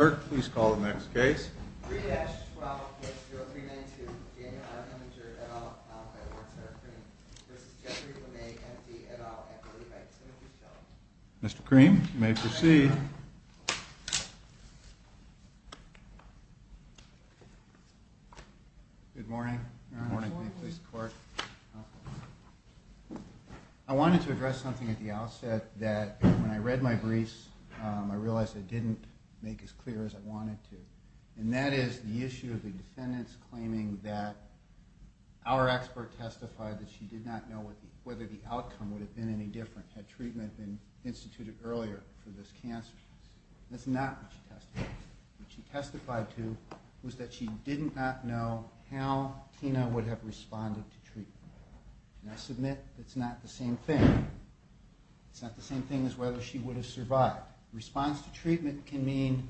Mr. Kirk, please call the next case. 3-12-0392, J.R. Hemminger, et al., al-Qaida, Ward Center, Cream, v. Jeffrey Lemay, M.D., et al., M.D. by Timothy Shelton. Mr. Cream, you may proceed. Good morning. Good morning. I wanted to address something at the outset that, when I read my briefs, I realized I didn't make as clear as I wanted to. And that is the issue of the defendants claiming that our expert testified that she did not know whether the outcome would have been any different had treatment been instituted earlier for this cancer. That's not what she testified to. What she testified to was that she did not know how Tina would have responded to treatment. And I submit that's not the same thing. It's not the same thing as whether she would have survived. Response to treatment can mean,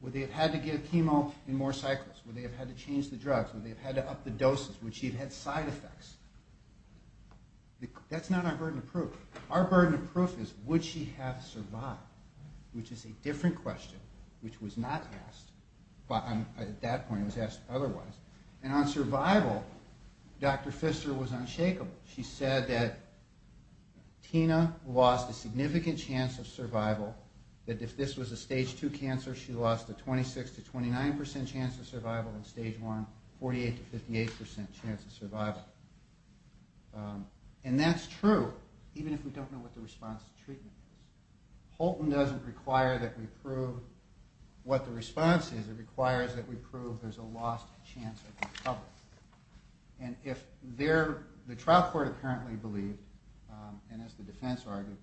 would they have had to get a chemo in more cycles? Would they have had to change the drugs? Would they have had to up the doses? Would she have had side effects? That's not our burden of proof. Our burden of proof is, would she have survived? Which is a different question, which was not asked at that point. It was asked otherwise. And on survival, Dr. Pfister was unshakable. She said that Tina lost a significant chance of survival, that if this was a stage 2 cancer, she lost a 26 to 29 percent chance of survival in stage 1, 48 to 58 percent chance of survival. And that's true, even if we don't know what the response to treatment is. Holton doesn't require that we prove what the response is. It requires that we prove there's a lost chance of recovery. And the trial court apparently believed, and as the defense argued,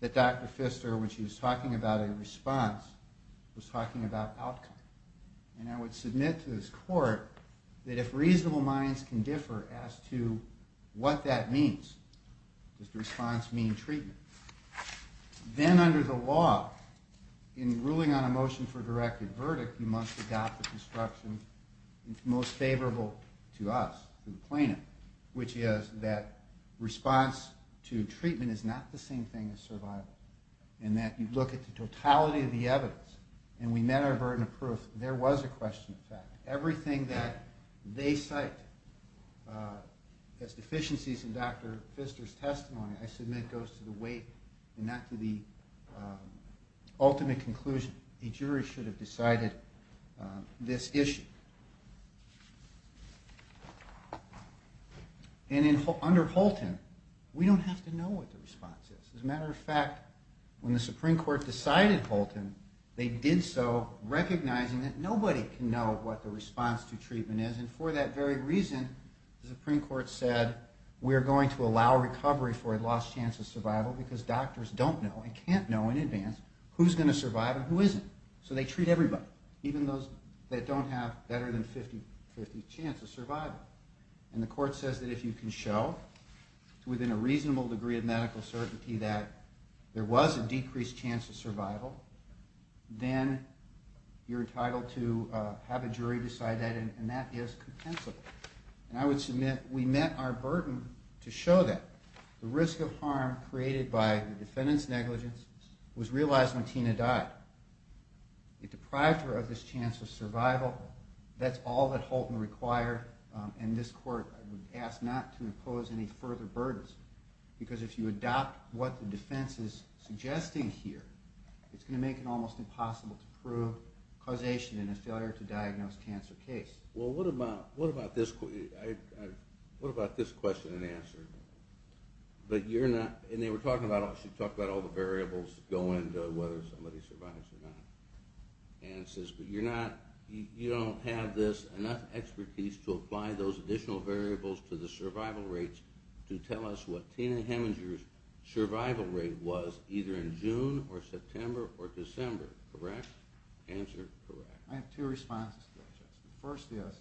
that Dr. Pfister, when she was talking about a response, was talking about outcome. And I would submit to this court that if reasonable minds can differ as to what that means, does the response mean treatment? Then under the law, in ruling on a motion for directed verdict, you must adopt the construction most favorable to us, to the plaintiff, which is that response to treatment is not the same thing as survival, and that you look at the totality of the evidence. And we met our burden of proof. There was a question of fact. Everything that they cite as deficiencies in Dr. Pfister's testimony, I submit, goes to the weight and not to the ultimate conclusion. A jury should have decided this issue. And under Holton, we don't have to know what the response is. As a matter of fact, when the Supreme Court decided Holton, they did so recognizing that nobody can know what the response to treatment is. And for that very reason, the Supreme Court said we're going to allow recovery for a lost chance of survival because doctors don't know and can't know in advance who's going to survive and who isn't. So they treat everybody, even those that don't have better than a 50-50 chance of survival. And the court says that if you can show, within a reasonable degree of medical certainty, that there was a decreased chance of survival, then you're entitled to have a jury decide that, and that is compensable. And I would submit we met our burden to show that. The risk of harm created by the defendant's negligence was realized when Tina died. It deprived her of this chance of survival. That's all that Holton required, and this court asked not to impose any further burdens because if you adopt what the defense is suggesting here, it's going to make it almost impossible to prove causation in a failure-to-diagnose-cancer case. Well, what about this question and answer? But you're not, and they were talking about, she talked about all the variables going to whether somebody survives or not. And it says, but you're not, you don't have this, enough expertise to apply those additional variables to the survival rates to tell us what Tina Heminger's survival rate was either in June or September or December, correct? Answer, correct. I have two responses. The first is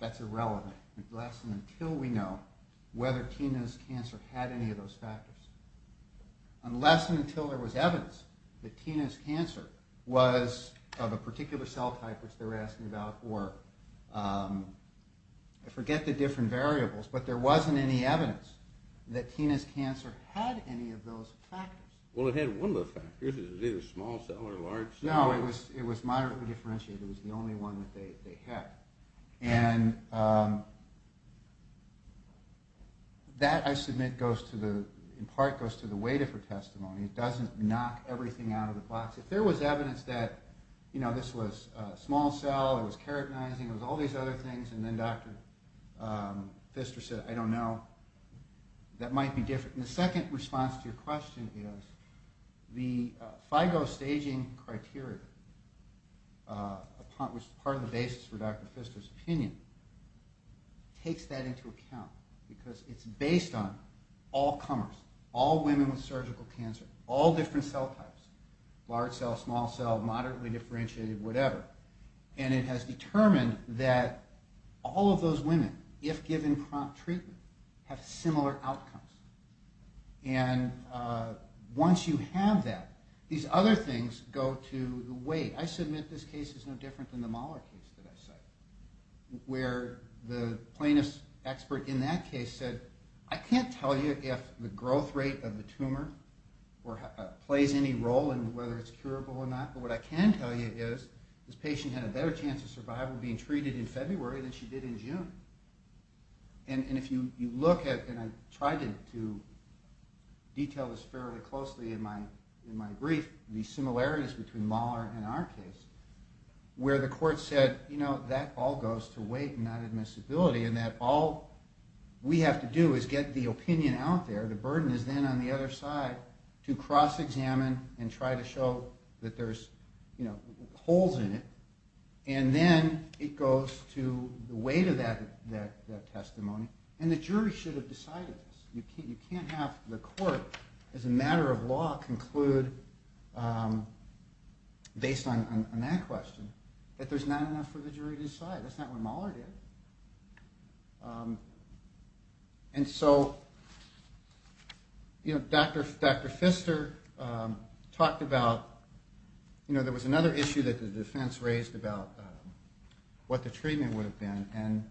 that's irrelevant unless and until we know whether Tina's cancer had any of those factors. Unless and until there was evidence that Tina's cancer was of a particular cell type, which they were asking about, or I forget the different variables, but there wasn't any evidence that Tina's cancer had any of those factors. Well, it had one of the factors. It was either a small cell or a large cell. No, it was moderately differentiated. It was the only one that they had. And that, I submit, in part goes to the weight of her testimony. It doesn't knock everything out of the box. If there was evidence that this was a small cell, it was keratinizing, it was all these other things, and then Dr. Pfister said, I don't know, that might be different. The second response to your question is the FIGO staging criteria, which is part of the basis for Dr. Pfister's opinion, takes that into account because it's based on all comers, all women with surgical cancer, all different cell types, large cell, small cell, moderately differentiated, whatever, and it has determined that all of those women, if given prompt treatment, have similar outcomes. And once you have that, these other things go to the weight. I submit this case is no different than the Mahler case that I cited, where the plaintiff's expert in that case said, I can't tell you if the growth rate of the tumor plays any role in whether it's curable or not, but what I can tell you is this patient had a better chance of survival being treated in February than she did in June. And if you look at, and I tried to detail this fairly closely in my brief, the similarities between Mahler and our case, where the court said, you know, that all goes to weight, not admissibility, and that all we have to do is get the opinion out there, the burden is then on the other side to cross-examine and try to show that there's holes in it, and then it goes to the weight of that testimony. And the jury should have decided this. You can't have the court, as a matter of law, conclude based on that question that there's not enough for the jury to decide. That's not what Mahler did. And so, you know, Dr. Pfister talked about, you know, there was another issue that the defense raised about what the treatment would have been, and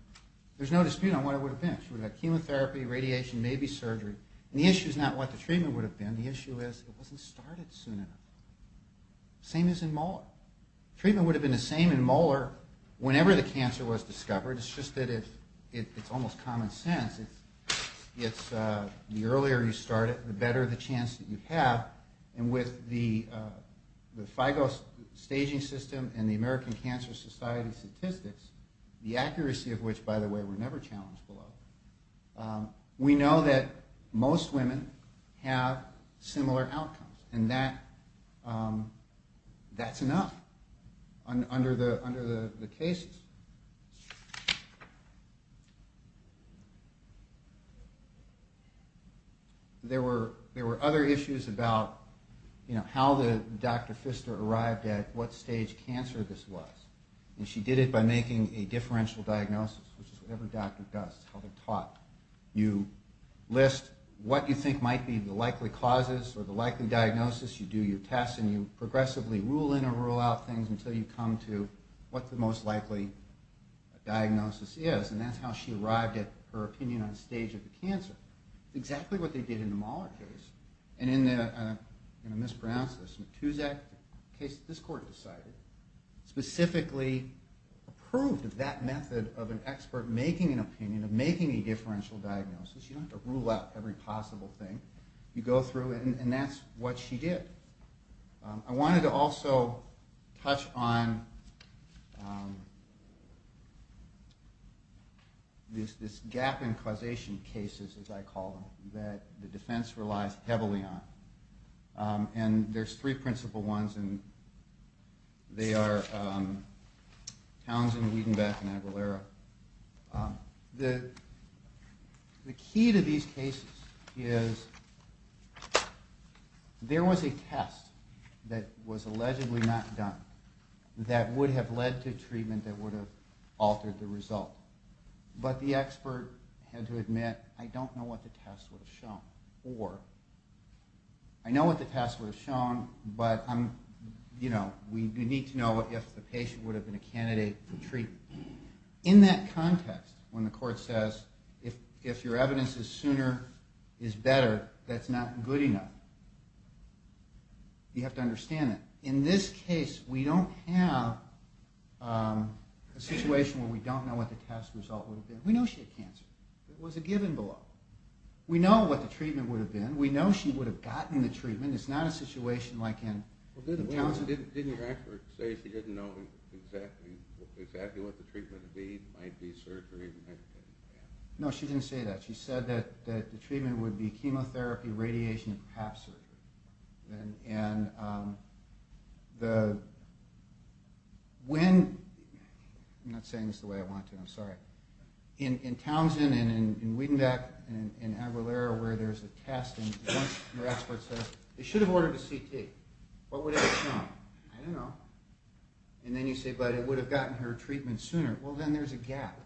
there's no dispute on what it would have been. She would have had chemotherapy, radiation, maybe surgery. And the issue is not what the treatment would have been. The issue is it wasn't started soon enough. Same as in Mahler. Treatment would have been the same in Mahler whenever the cancer was discovered. It's just that it's almost common sense. The earlier you start it, the better the chance that you have. And with the FIGO staging system and the American Cancer Society statistics, the accuracy of which, by the way, were never challenged below, we know that most women have similar outcomes. And that's enough under the cases. There were other issues about, you know, how the Dr. Pfister arrived at what stage cancer this was. And she did it by making a differential diagnosis, which is whatever a doctor does, how they're taught. You list what you think might be the likely causes or the likely diagnosis. You do your tests, and you progressively rule in or rule out things until you come to what the most likely diagnosis is. And that's how she arrived at her opinion on the stage of the cancer. Exactly what they did in the Mahler case. And in the, I'm going to mispronounce this, Matusak case, this court decided, specifically approved of that method of an expert making an opinion, of making a differential diagnosis. You don't have to rule out every possible thing. You go through it, and that's what she did. I wanted to also touch on this gap in causation cases, as I call them, that the defense relies heavily on. And there's three principal ones, and they are Townsend, Wiedenbeck, and Aguilera. The key to these cases is there was a test that was allegedly not done that would have led to treatment that would have altered the result. But the expert had to admit, I don't know what the test would have shown, or I know what the test would have shown, but we need to know if the patient would have been a candidate for treatment. In that context, when the court says, if your evidence is sooner is better, that's not good enough, you have to understand that. In this case, we don't have a situation where we don't know what the test result would have been. We know she had cancer. It was a given below. We know what the treatment would have been. We know she would have gotten the treatment. It's not a situation like in Townsend. Didn't your expert say she didn't know exactly what the treatment would be? It might be surgery. No, she didn't say that. She said that the treatment would be chemotherapy, radiation, and perhaps surgery. I'm not saying this the way I want to. I'm sorry. In Townsend and in Wiedenbeck and in Aguilera where there's a test, your expert says, they should have ordered a CT. What would have come? I don't know. And then you say, but it would have gotten her treatment sooner. Well, then there's a gap.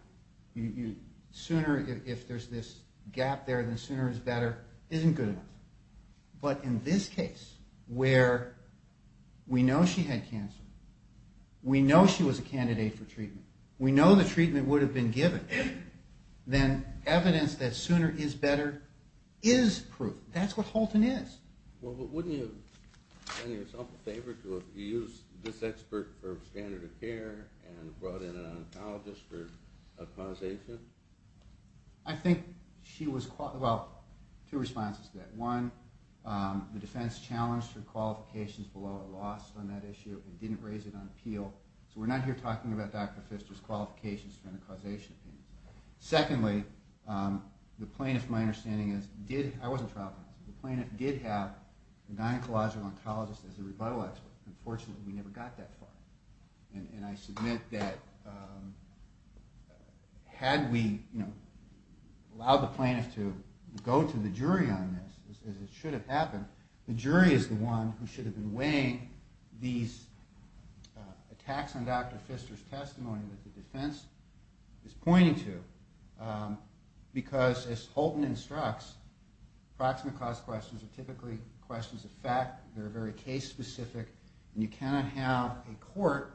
Sooner, if there's this gap there, then sooner is better isn't good enough. But in this case where we know she had cancer, we know she was a candidate for treatment, we know the treatment would have been given, then evidence that sooner is better is proof. That's what Halton is. Well, wouldn't you have done yourself a favor to have used this expert for standard of care and brought in an oncologist for a causation? I think she was quite well. Two responses to that. One, the defense challenged her qualifications below a loss on that issue and didn't raise it on appeal. So we're not here talking about Dr. Pfister's qualifications and the causation of cancer. Secondly, the plaintiff, my understanding is, did have, I wasn't traveling, the plaintiff did have a gynecological oncologist as a rebuttal expert. Unfortunately, we never got that far. And I submit that had we allowed the plaintiff to go to the jury on this, as it should have happened, the jury is the one who should have been weighing these attacks on Dr. Pfister's testimony that the defense is pointing to. Because as Halton instructs, approximate cause questions are typically questions of fact, they're very case specific, and you cannot have a court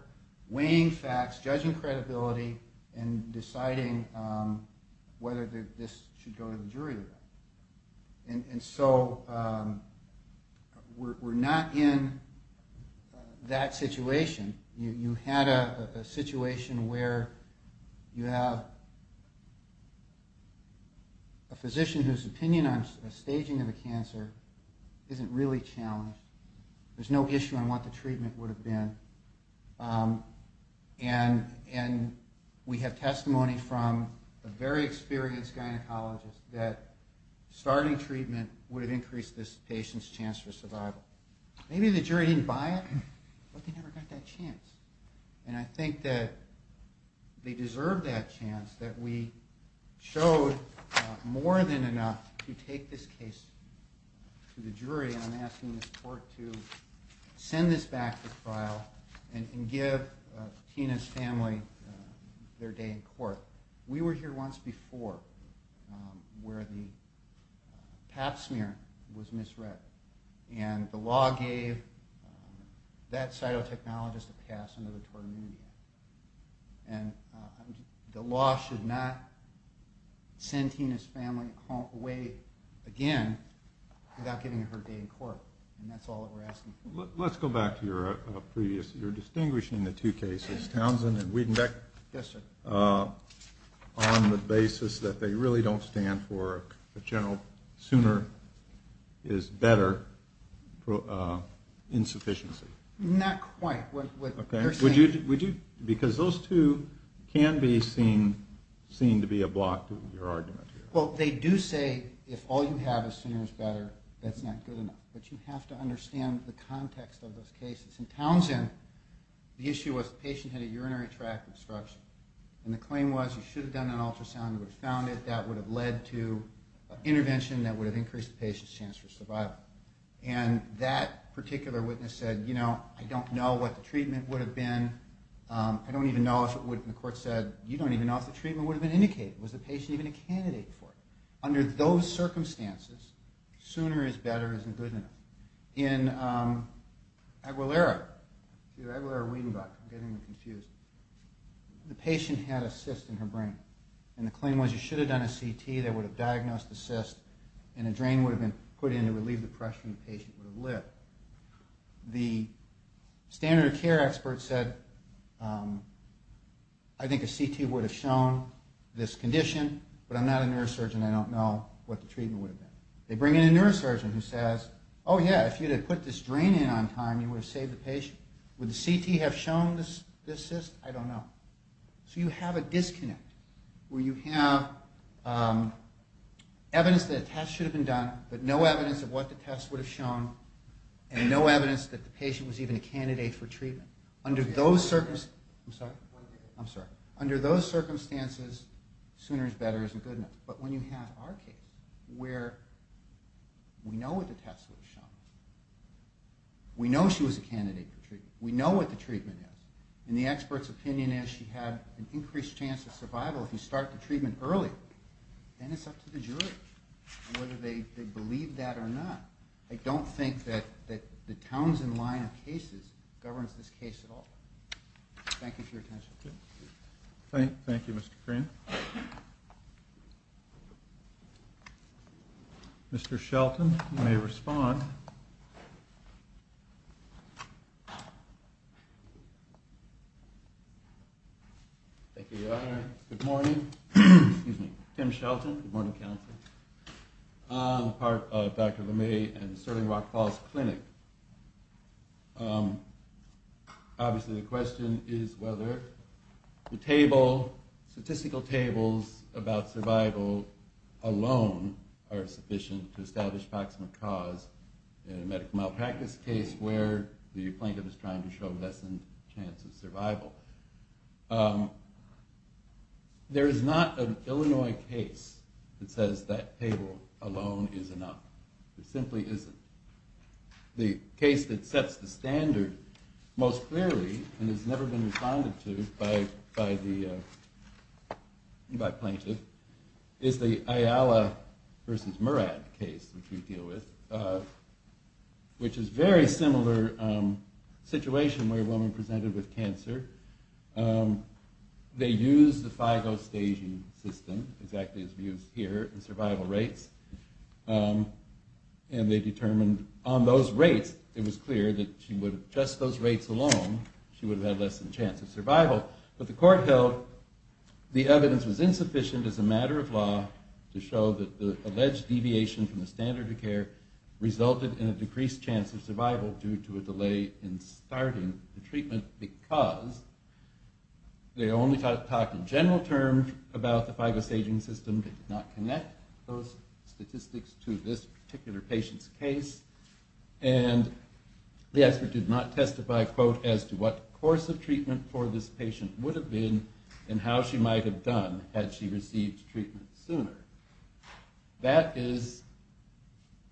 weighing facts, judging credibility, and deciding whether this should go to the jury or not. And so we're not in that situation. You had a situation where you have a physician whose opinion on the staging of a cancer isn't really challenged. There's no issue on what the treatment would have been. And we have testimony from a very experienced gynecologist that starting treatment would have increased this patient's chance for survival. Maybe the jury didn't buy it, but they never got that chance. And I think that they deserve that chance, that we showed more than enough to take this case to the jury, and I'm asking this court to send this back to trial and give Tina's family their day in court. We were here once before where the pap smear was misread, and the law gave that cytotechnologist a pass under the Tort Immunity Act, and the law should not send Tina's family away again without giving her a day in court, and that's all that we're asking for. Let's go back to your distinguishing the two cases, Townsend and Wiedenbeck, on the basis that they really don't stand for a general sooner is better insufficiency. Not quite. Because those two can be seen to be a block to your argument here. Well, they do say if all you have is sooner is better, that's not good enough. But you have to understand the context of those cases. In Townsend, the issue was the patient had a urinary tract obstruction, and the claim was you should have done an ultrasound, you would have found it, that would have led to intervention that would have increased the patient's chance for survival. And that particular witness said, you know, I don't know what the treatment would have been, I don't even know if it would have, and the court said you don't even know if the treatment would have been indicated. Was the patient even a candidate for it? Under those circumstances, sooner is better isn't good enough. In Aguilera, Aguilera-Wiedenbeck, I'm getting them confused, the patient had a cyst in her brain, and the claim was you should have done a CT, that would have diagnosed the cyst, and a drain would have been put in to relieve the pressure and the patient would have lived. The standard of care expert said, I think a CT would have shown this condition, but I'm not a neurosurgeon, I don't know what the treatment would have been. They bring in a neurosurgeon who says, oh yeah, if you had put this drain in on time, you would have saved the patient. Would the CT have shown this cyst? I don't know. So you have a disconnect, where you have evidence that a test should have been done, but no evidence of what the test would have shown, and no evidence that the patient was even a candidate for treatment. Under those circumstances, sooner is better isn't good enough. But when you have our case, where we know what the test would have shown, we know she was a candidate for treatment, we know what the treatment is, and the expert's opinion is she had an increased chance of survival if you start the treatment early. Then it's up to the jury, whether they believe that or not. I don't think that the Townsend line of cases governs this case at all. Thank you for your attention. Thank you, Mr. Krian. Mr. Shelton, you may respond. Thank you, Your Honor. Good morning. Excuse me. Tim Shelton. Good morning, counsel. I'm part of Dr. Lemay and Serling Rock Falls Clinic. Obviously, the question is whether the table, statistical tables about survival alone are sufficient to establish proximate cause in a medical malpractice case where the plaintiff is trying to show lessened chance of survival. There is not an Illinois case that says that table alone is enough. There simply isn't. The case that sets the standard most clearly and has never been responded to by the plaintiff is the Ayala v. Murad case, which we deal with, which is a very similar situation where a woman presented with cancer. They used the FIGO staging system, exactly as we used here, and survival rates, and they determined on those rates it was clear that just those rates alone, she would have had less than chance of survival. But the court held the evidence was insufficient as a matter of law to show that the alleged deviation from the standard of care resulted in a decreased chance of survival due to a delay in starting the treatment because they only talked in general terms about the FIGO staging system. They did not connect those statistics to this particular patient's case. And the expert did not testify, quote, as to what course of treatment for this patient would have been and how she might have done had she received treatment sooner. That is,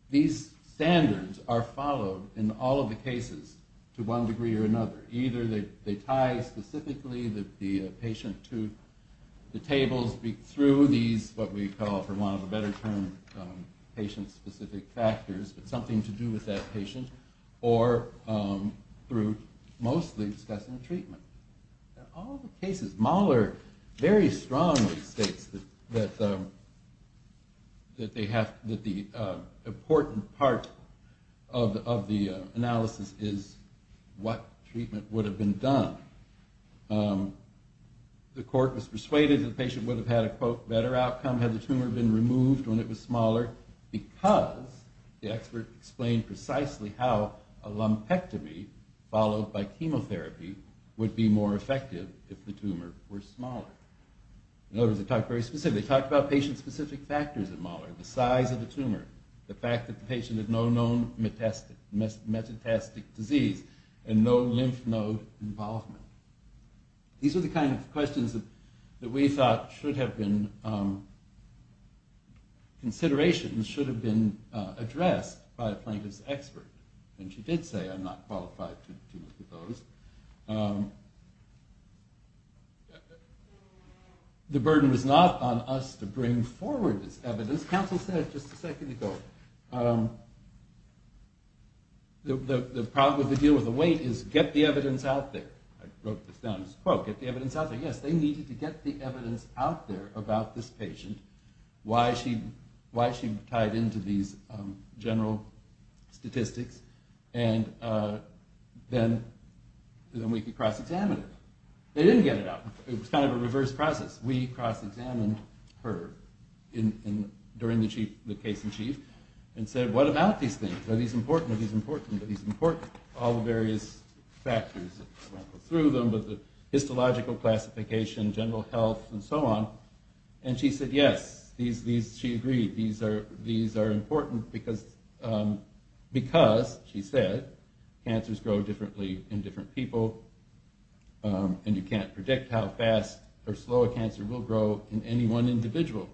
these standards are followed in all of the cases to one degree or another. Either they tie specifically the patient to the tables through these, what we call for want of a better term, patient-specific factors, but something to do with that patient, or through mostly discussing treatment. In all the cases, Mahler very strongly states that the important part of the analysis is what treatment would have been done. Had the tumor been removed when it was smaller because the expert explained precisely how a lumpectomy followed by chemotherapy would be more effective if the tumor were smaller. In other words, they talked very specifically. They talked about patient-specific factors at Mahler, the size of the tumor, the fact that the patient had no known metastatic disease and no lymph node involvement. These are the kind of questions that we thought should have been considerations, should have been addressed by a plaintiff's expert. And she did say, I'm not qualified to look at those. The burden was not on us to bring forward this evidence. Counsel said it just a second ago. The problem with the deal with the weight is get the evidence out there. I wrote this down as a quote. Get the evidence out there. Yes, they needed to get the evidence out there about this patient, why she tied into these general statistics, and then we could cross-examine it. They didn't get it out. It was kind of a reverse process. We cross-examined her during the case in chief and said, what about these things? Are these important? Are these important? All the various factors. I won't go through them, but the histological classification, general health, and so on. And she said, yes, she agreed. These are important because, she said, cancers grow differently in different people, and you can't predict how fast or slow a cancer will grow in any one individual.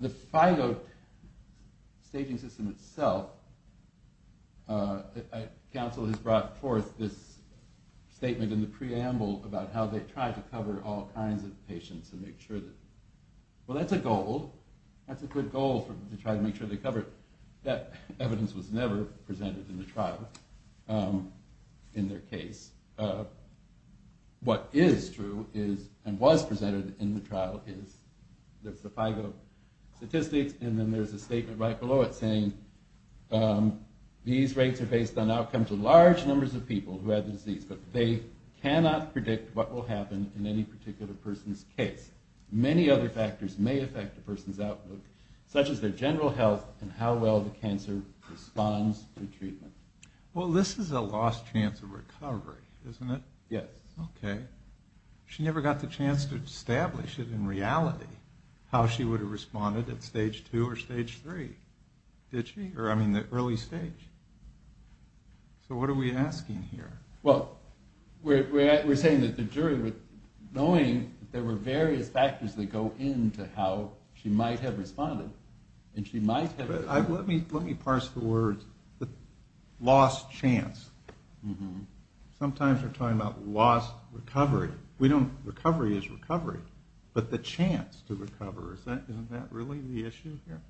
The FIGO staging system itself, counsel has brought forth this statement in the preamble about how they try to cover all kinds of patients and make sure that, well, that's a goal. That's a good goal to try to make sure they cover it. That evidence was never presented in the trial in their case. What is true is, and was presented in the trial, is the FIGO statistics. And then there's a statement right below it saying, these rates are based on outcomes of large numbers of people who had the disease, but they cannot predict what will happen in any particular person's case. Many other factors may affect a person's outlook, such as their general health and how well the cancer responds to treatment. Well, this is a lost chance of recovery, isn't it? Yes. Okay. She never got the chance to establish it in reality, how she would have responded at stage two or stage three. Did she? Or, I mean, the early stage. So what are we asking here? Well, we're saying that the jury, knowing there were various factors that go into how she might have responded, and she might have. Let me parse the word lost chance. Sometimes we're talking about lost recovery. Recovery is recovery. But the chance to recover, isn't that really the issue here?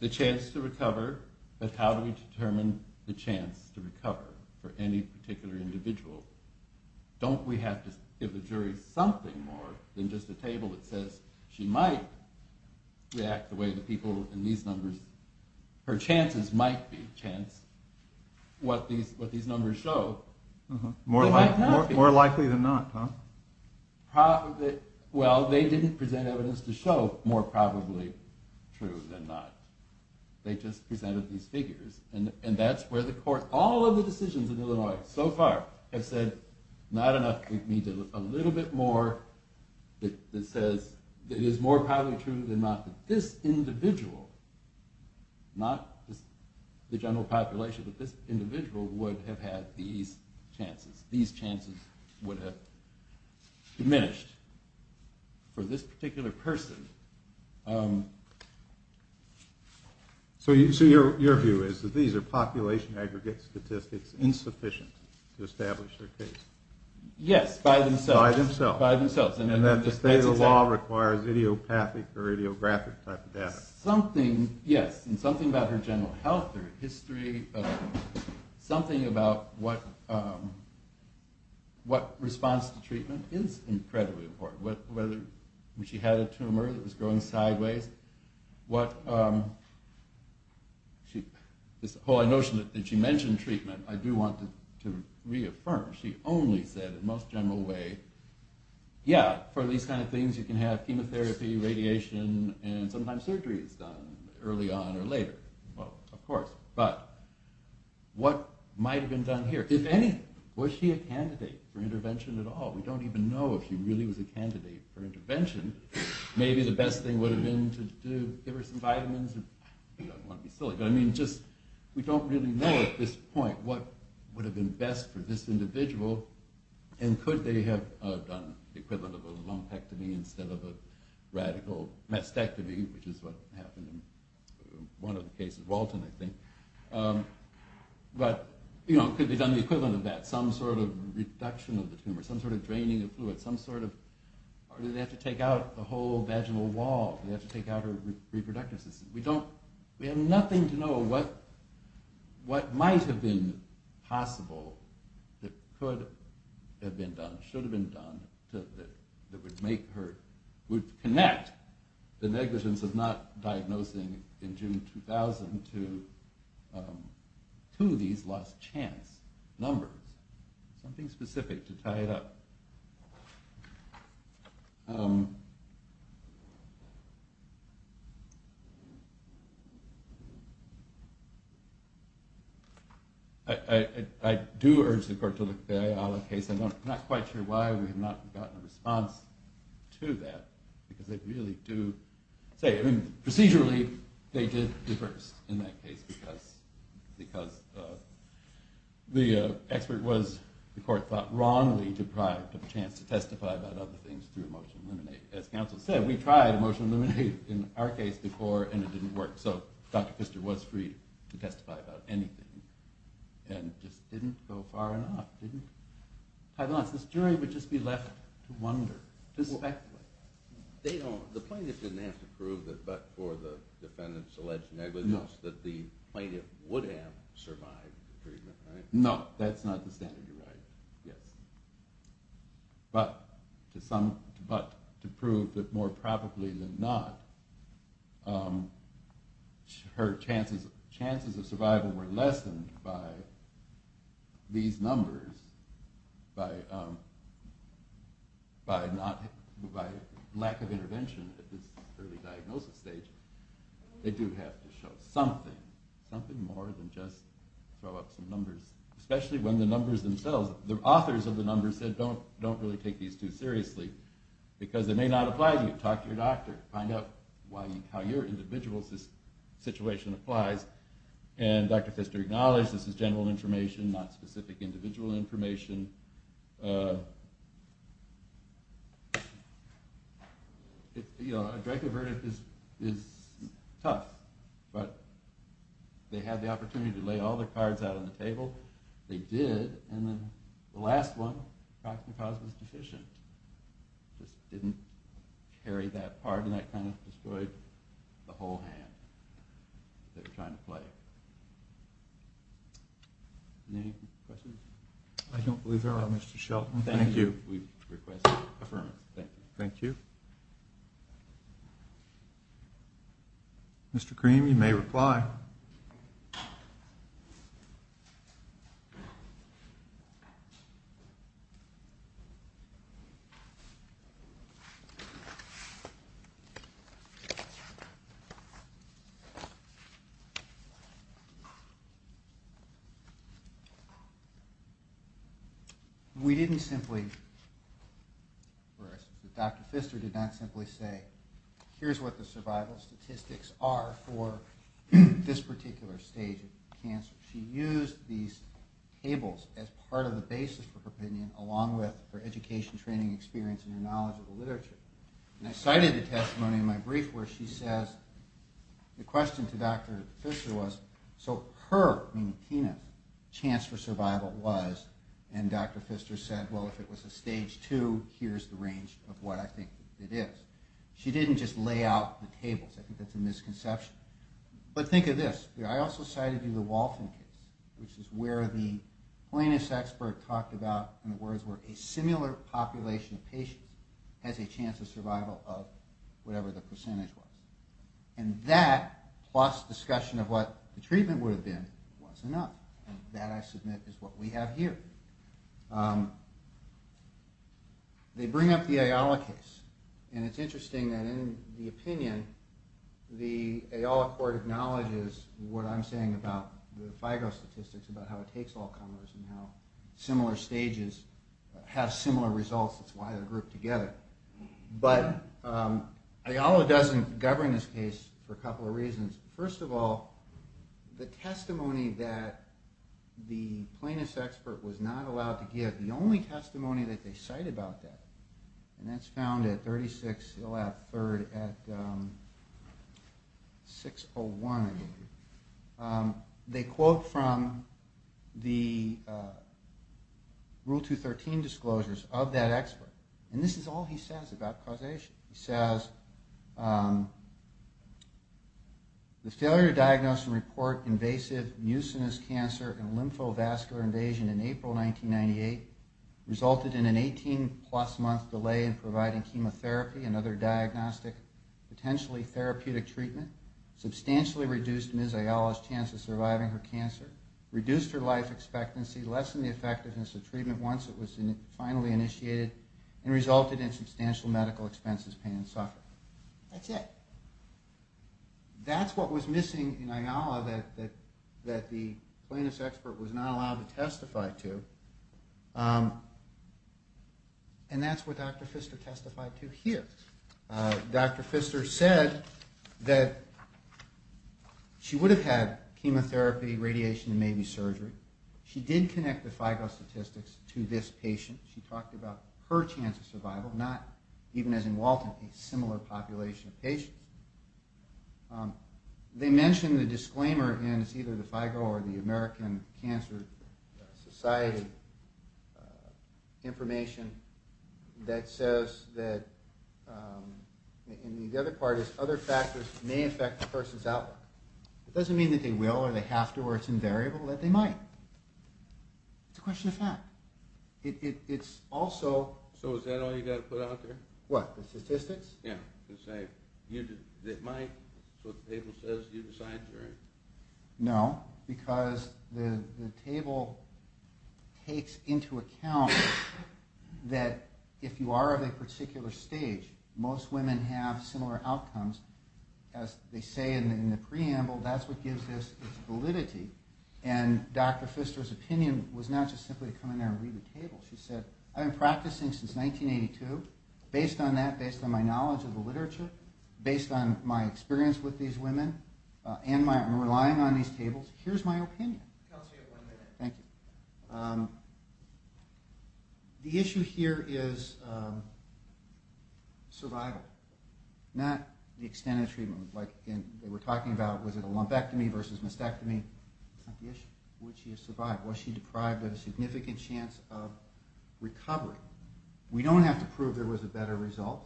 The chance to recover, but how do we determine the chance to recover for any particular individual? Don't we have to give the jury something more than just a table that says she might react the way the people in these numbers, her chances might be, chance, what these numbers show. More likely than not, huh? Well, they didn't present evidence to show more probably true than not. They just presented these figures. And that's where the court, all of the decisions in Illinois so far, have said not enough. We need a little bit more that says it is more probably true than not that this individual, not the general population, but this individual would have had these chances. These chances would have diminished for this particular person. So your view is that these are population aggregate statistics insufficient to establish their case? Yes, by themselves. By themselves. By themselves. And that the state of the law requires idiopathic or idiographic type of data. Something, yes, and something about her general health or history, something about what response to treatment is incredibly important. Whether she had a tumor that was growing sideways, what this whole notion that she mentioned treatment, I do want to reaffirm. She only said in the most general way, yeah, for these kind of things, you can have chemotherapy, radiation, and sometimes surgery is done early on or later. Well, of course. But what might have been done here? If anything, was she a candidate for intervention at all? We don't even know if she really was a candidate for intervention. Maybe the best thing would have been to give her some vitamins. You don't want to be silly. But, I mean, we don't really know at this point what would have been best for this individual, and could they have done the equivalent of a lumpectomy instead of a radical mastectomy, which is what happened in one of the cases, Walton, I think. But, you know, could they have done the equivalent of that, some sort of reduction of the tumor, some sort of draining of fluid, some sort of, or do they have to take out the whole vaginal wall? Do they have to take out her reproductive system? We don't, we have nothing to know what might have been possible that could have been done, should have been done that would make her, would connect the negligence of not diagnosing in June 2000 to these lost chance numbers. Something specific to tie it up. I do urge the court to look at the Ayala case. I'm not quite sure why we have not gotten a response to that, because they really do say, I mean, procedurally, they did the first in that case, because the expert was, the court thought, wrongly deprived of a chance to testify about other things through emotional illuminate. As counsel said, we tried emotional illuminate in our case before, and it didn't work. So Dr. Pfister was free to testify about anything, and just didn't go far enough, didn't tie the knots. This jury would just be left to wonder, to speculate. The plaintiff didn't have to prove that, but for the defendant's alleged negligence, that the plaintiff would have survived the treatment, right? No, that's not the standard you're right. Yes. But to prove that more probably than not, her chances of survival were lessened by these numbers, by lack of intervention at this early diagnosis stage. They do have to show something, something more than just throw up some numbers, especially when the numbers themselves, the authors of the numbers said, don't really take these too seriously, because they may not apply to you. Talk to your doctor. Find out how your individual situation applies. And Dr. Pfister acknowledged, this is general information, not specific individual information. A direct avertive is tough, but they had the opportunity to lay all the cards out on the table. They did, and then the last one, Proxima Causa was deficient. Just didn't carry that part, and that kind of destroyed the whole hand they were trying to play. Any questions? I don't believe there are, Mr. Shelton. Thank you. We request affirmation. Thank you. Thank you. Mr. Cream, you may reply. We didn't simply, or Dr. Pfister did not simply say, here's what the survival statistics are for this particular stage of cancer. She used these tables as part of the basis for her opinion, along with her education, training, experience, and her knowledge of the literature. And I cited a testimony in my brief where she says, the question to Dr. Pfister was, so her, meaning Tina's, chance for survival was, and Dr. Pfister said, well, if it was a stage 2, here's the range of what I think it is. She didn't just lay out the tables. I think that's a misconception. But think of this. I also cited you the Walton case, which is where the plaintiff's expert talked about, in other words, where a similar population of patients has a chance of survival of whatever the percentage was. And that, plus discussion of what the treatment would have been, was enough. And that, I submit, is what we have here. They bring up the Ayala case. And it's interesting that in the opinion, the Ayala court acknowledges what I'm saying about the FIGO statistics, about how it takes all comers, and how similar stages have similar results. That's why they're grouped together. But Ayala doesn't govern this case for a couple of reasons. First of all, the testimony that the plaintiff's expert was not allowed to give, the only testimony that they cite about that, and that's found at 36 Hill Ave. 3rd at 601, they quote from the Rule 213 disclosures of that expert. And this is all he says about causation. He says, The failure to diagnose and report invasive mucinous cancer and lymphovascular invasion in April 1998 resulted in an 18-plus month delay in providing chemotherapy and other diagnostic, potentially therapeutic treatment, substantially reduced Ms. Ayala's chance of surviving her cancer, reduced her life expectancy, lessened the effectiveness of treatment once it was finally initiated, and resulted in substantial medical expenses, pain, and suffering. That's it. That's what was missing in Ayala that the plaintiff's expert was not allowed to testify to. And that's what Dr. Pfister testified to here. Dr. Pfister said that she would have had chemotherapy, radiation, and maybe surgery. She did connect the FIGO statistics to this patient. She talked about her chance of survival, not, even as in Walton, a similar population of patients. They mentioned the disclaimer, and it's either the FIGO or the American Cancer Society information, that says that... And the other part is, other factors may affect the person's outlook. It doesn't mean that they will or they have to, or it's invariable that they might. It's a question of fact. It's also... So is that all you've got to put out there? What? The statistics? Yeah. It might. That's what the table says. You decide, Jerry. No. Because the table takes into account that if you are of a particular stage, most women have similar outcomes. As they say in the preamble, that's what gives this its validity. And Dr. Pfister's opinion was not just simply to come in there and read the table. She said, I've been practicing since 1982. Based on that, based on my knowledge of the literature, based on my experience with these women, and relying on these tables, here's my opinion. I'll tell you in one minute. Thank you. The issue here is survival, not the extent of treatment. Like they were talking about, was it a lumpectomy versus mastectomy? That's not the issue. Would she have survived? Was she deprived of a significant chance of recovery? We don't have to prove there was a better result,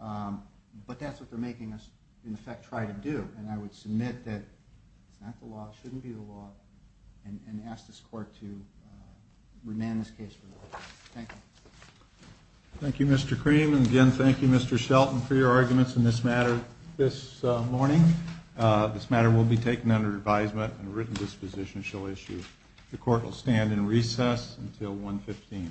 but that's what they're making us, in effect, try to do. And I would submit that it's not the law, it shouldn't be the law, and ask this Court to remand this case. Thank you. Thank you, Mr. Cream. And again, thank you, Mr. Shelton, for your arguments in this matter this morning. This matter will be taken under advisement, and a written disposition shall issue. The Court will stand in recess until 1.15.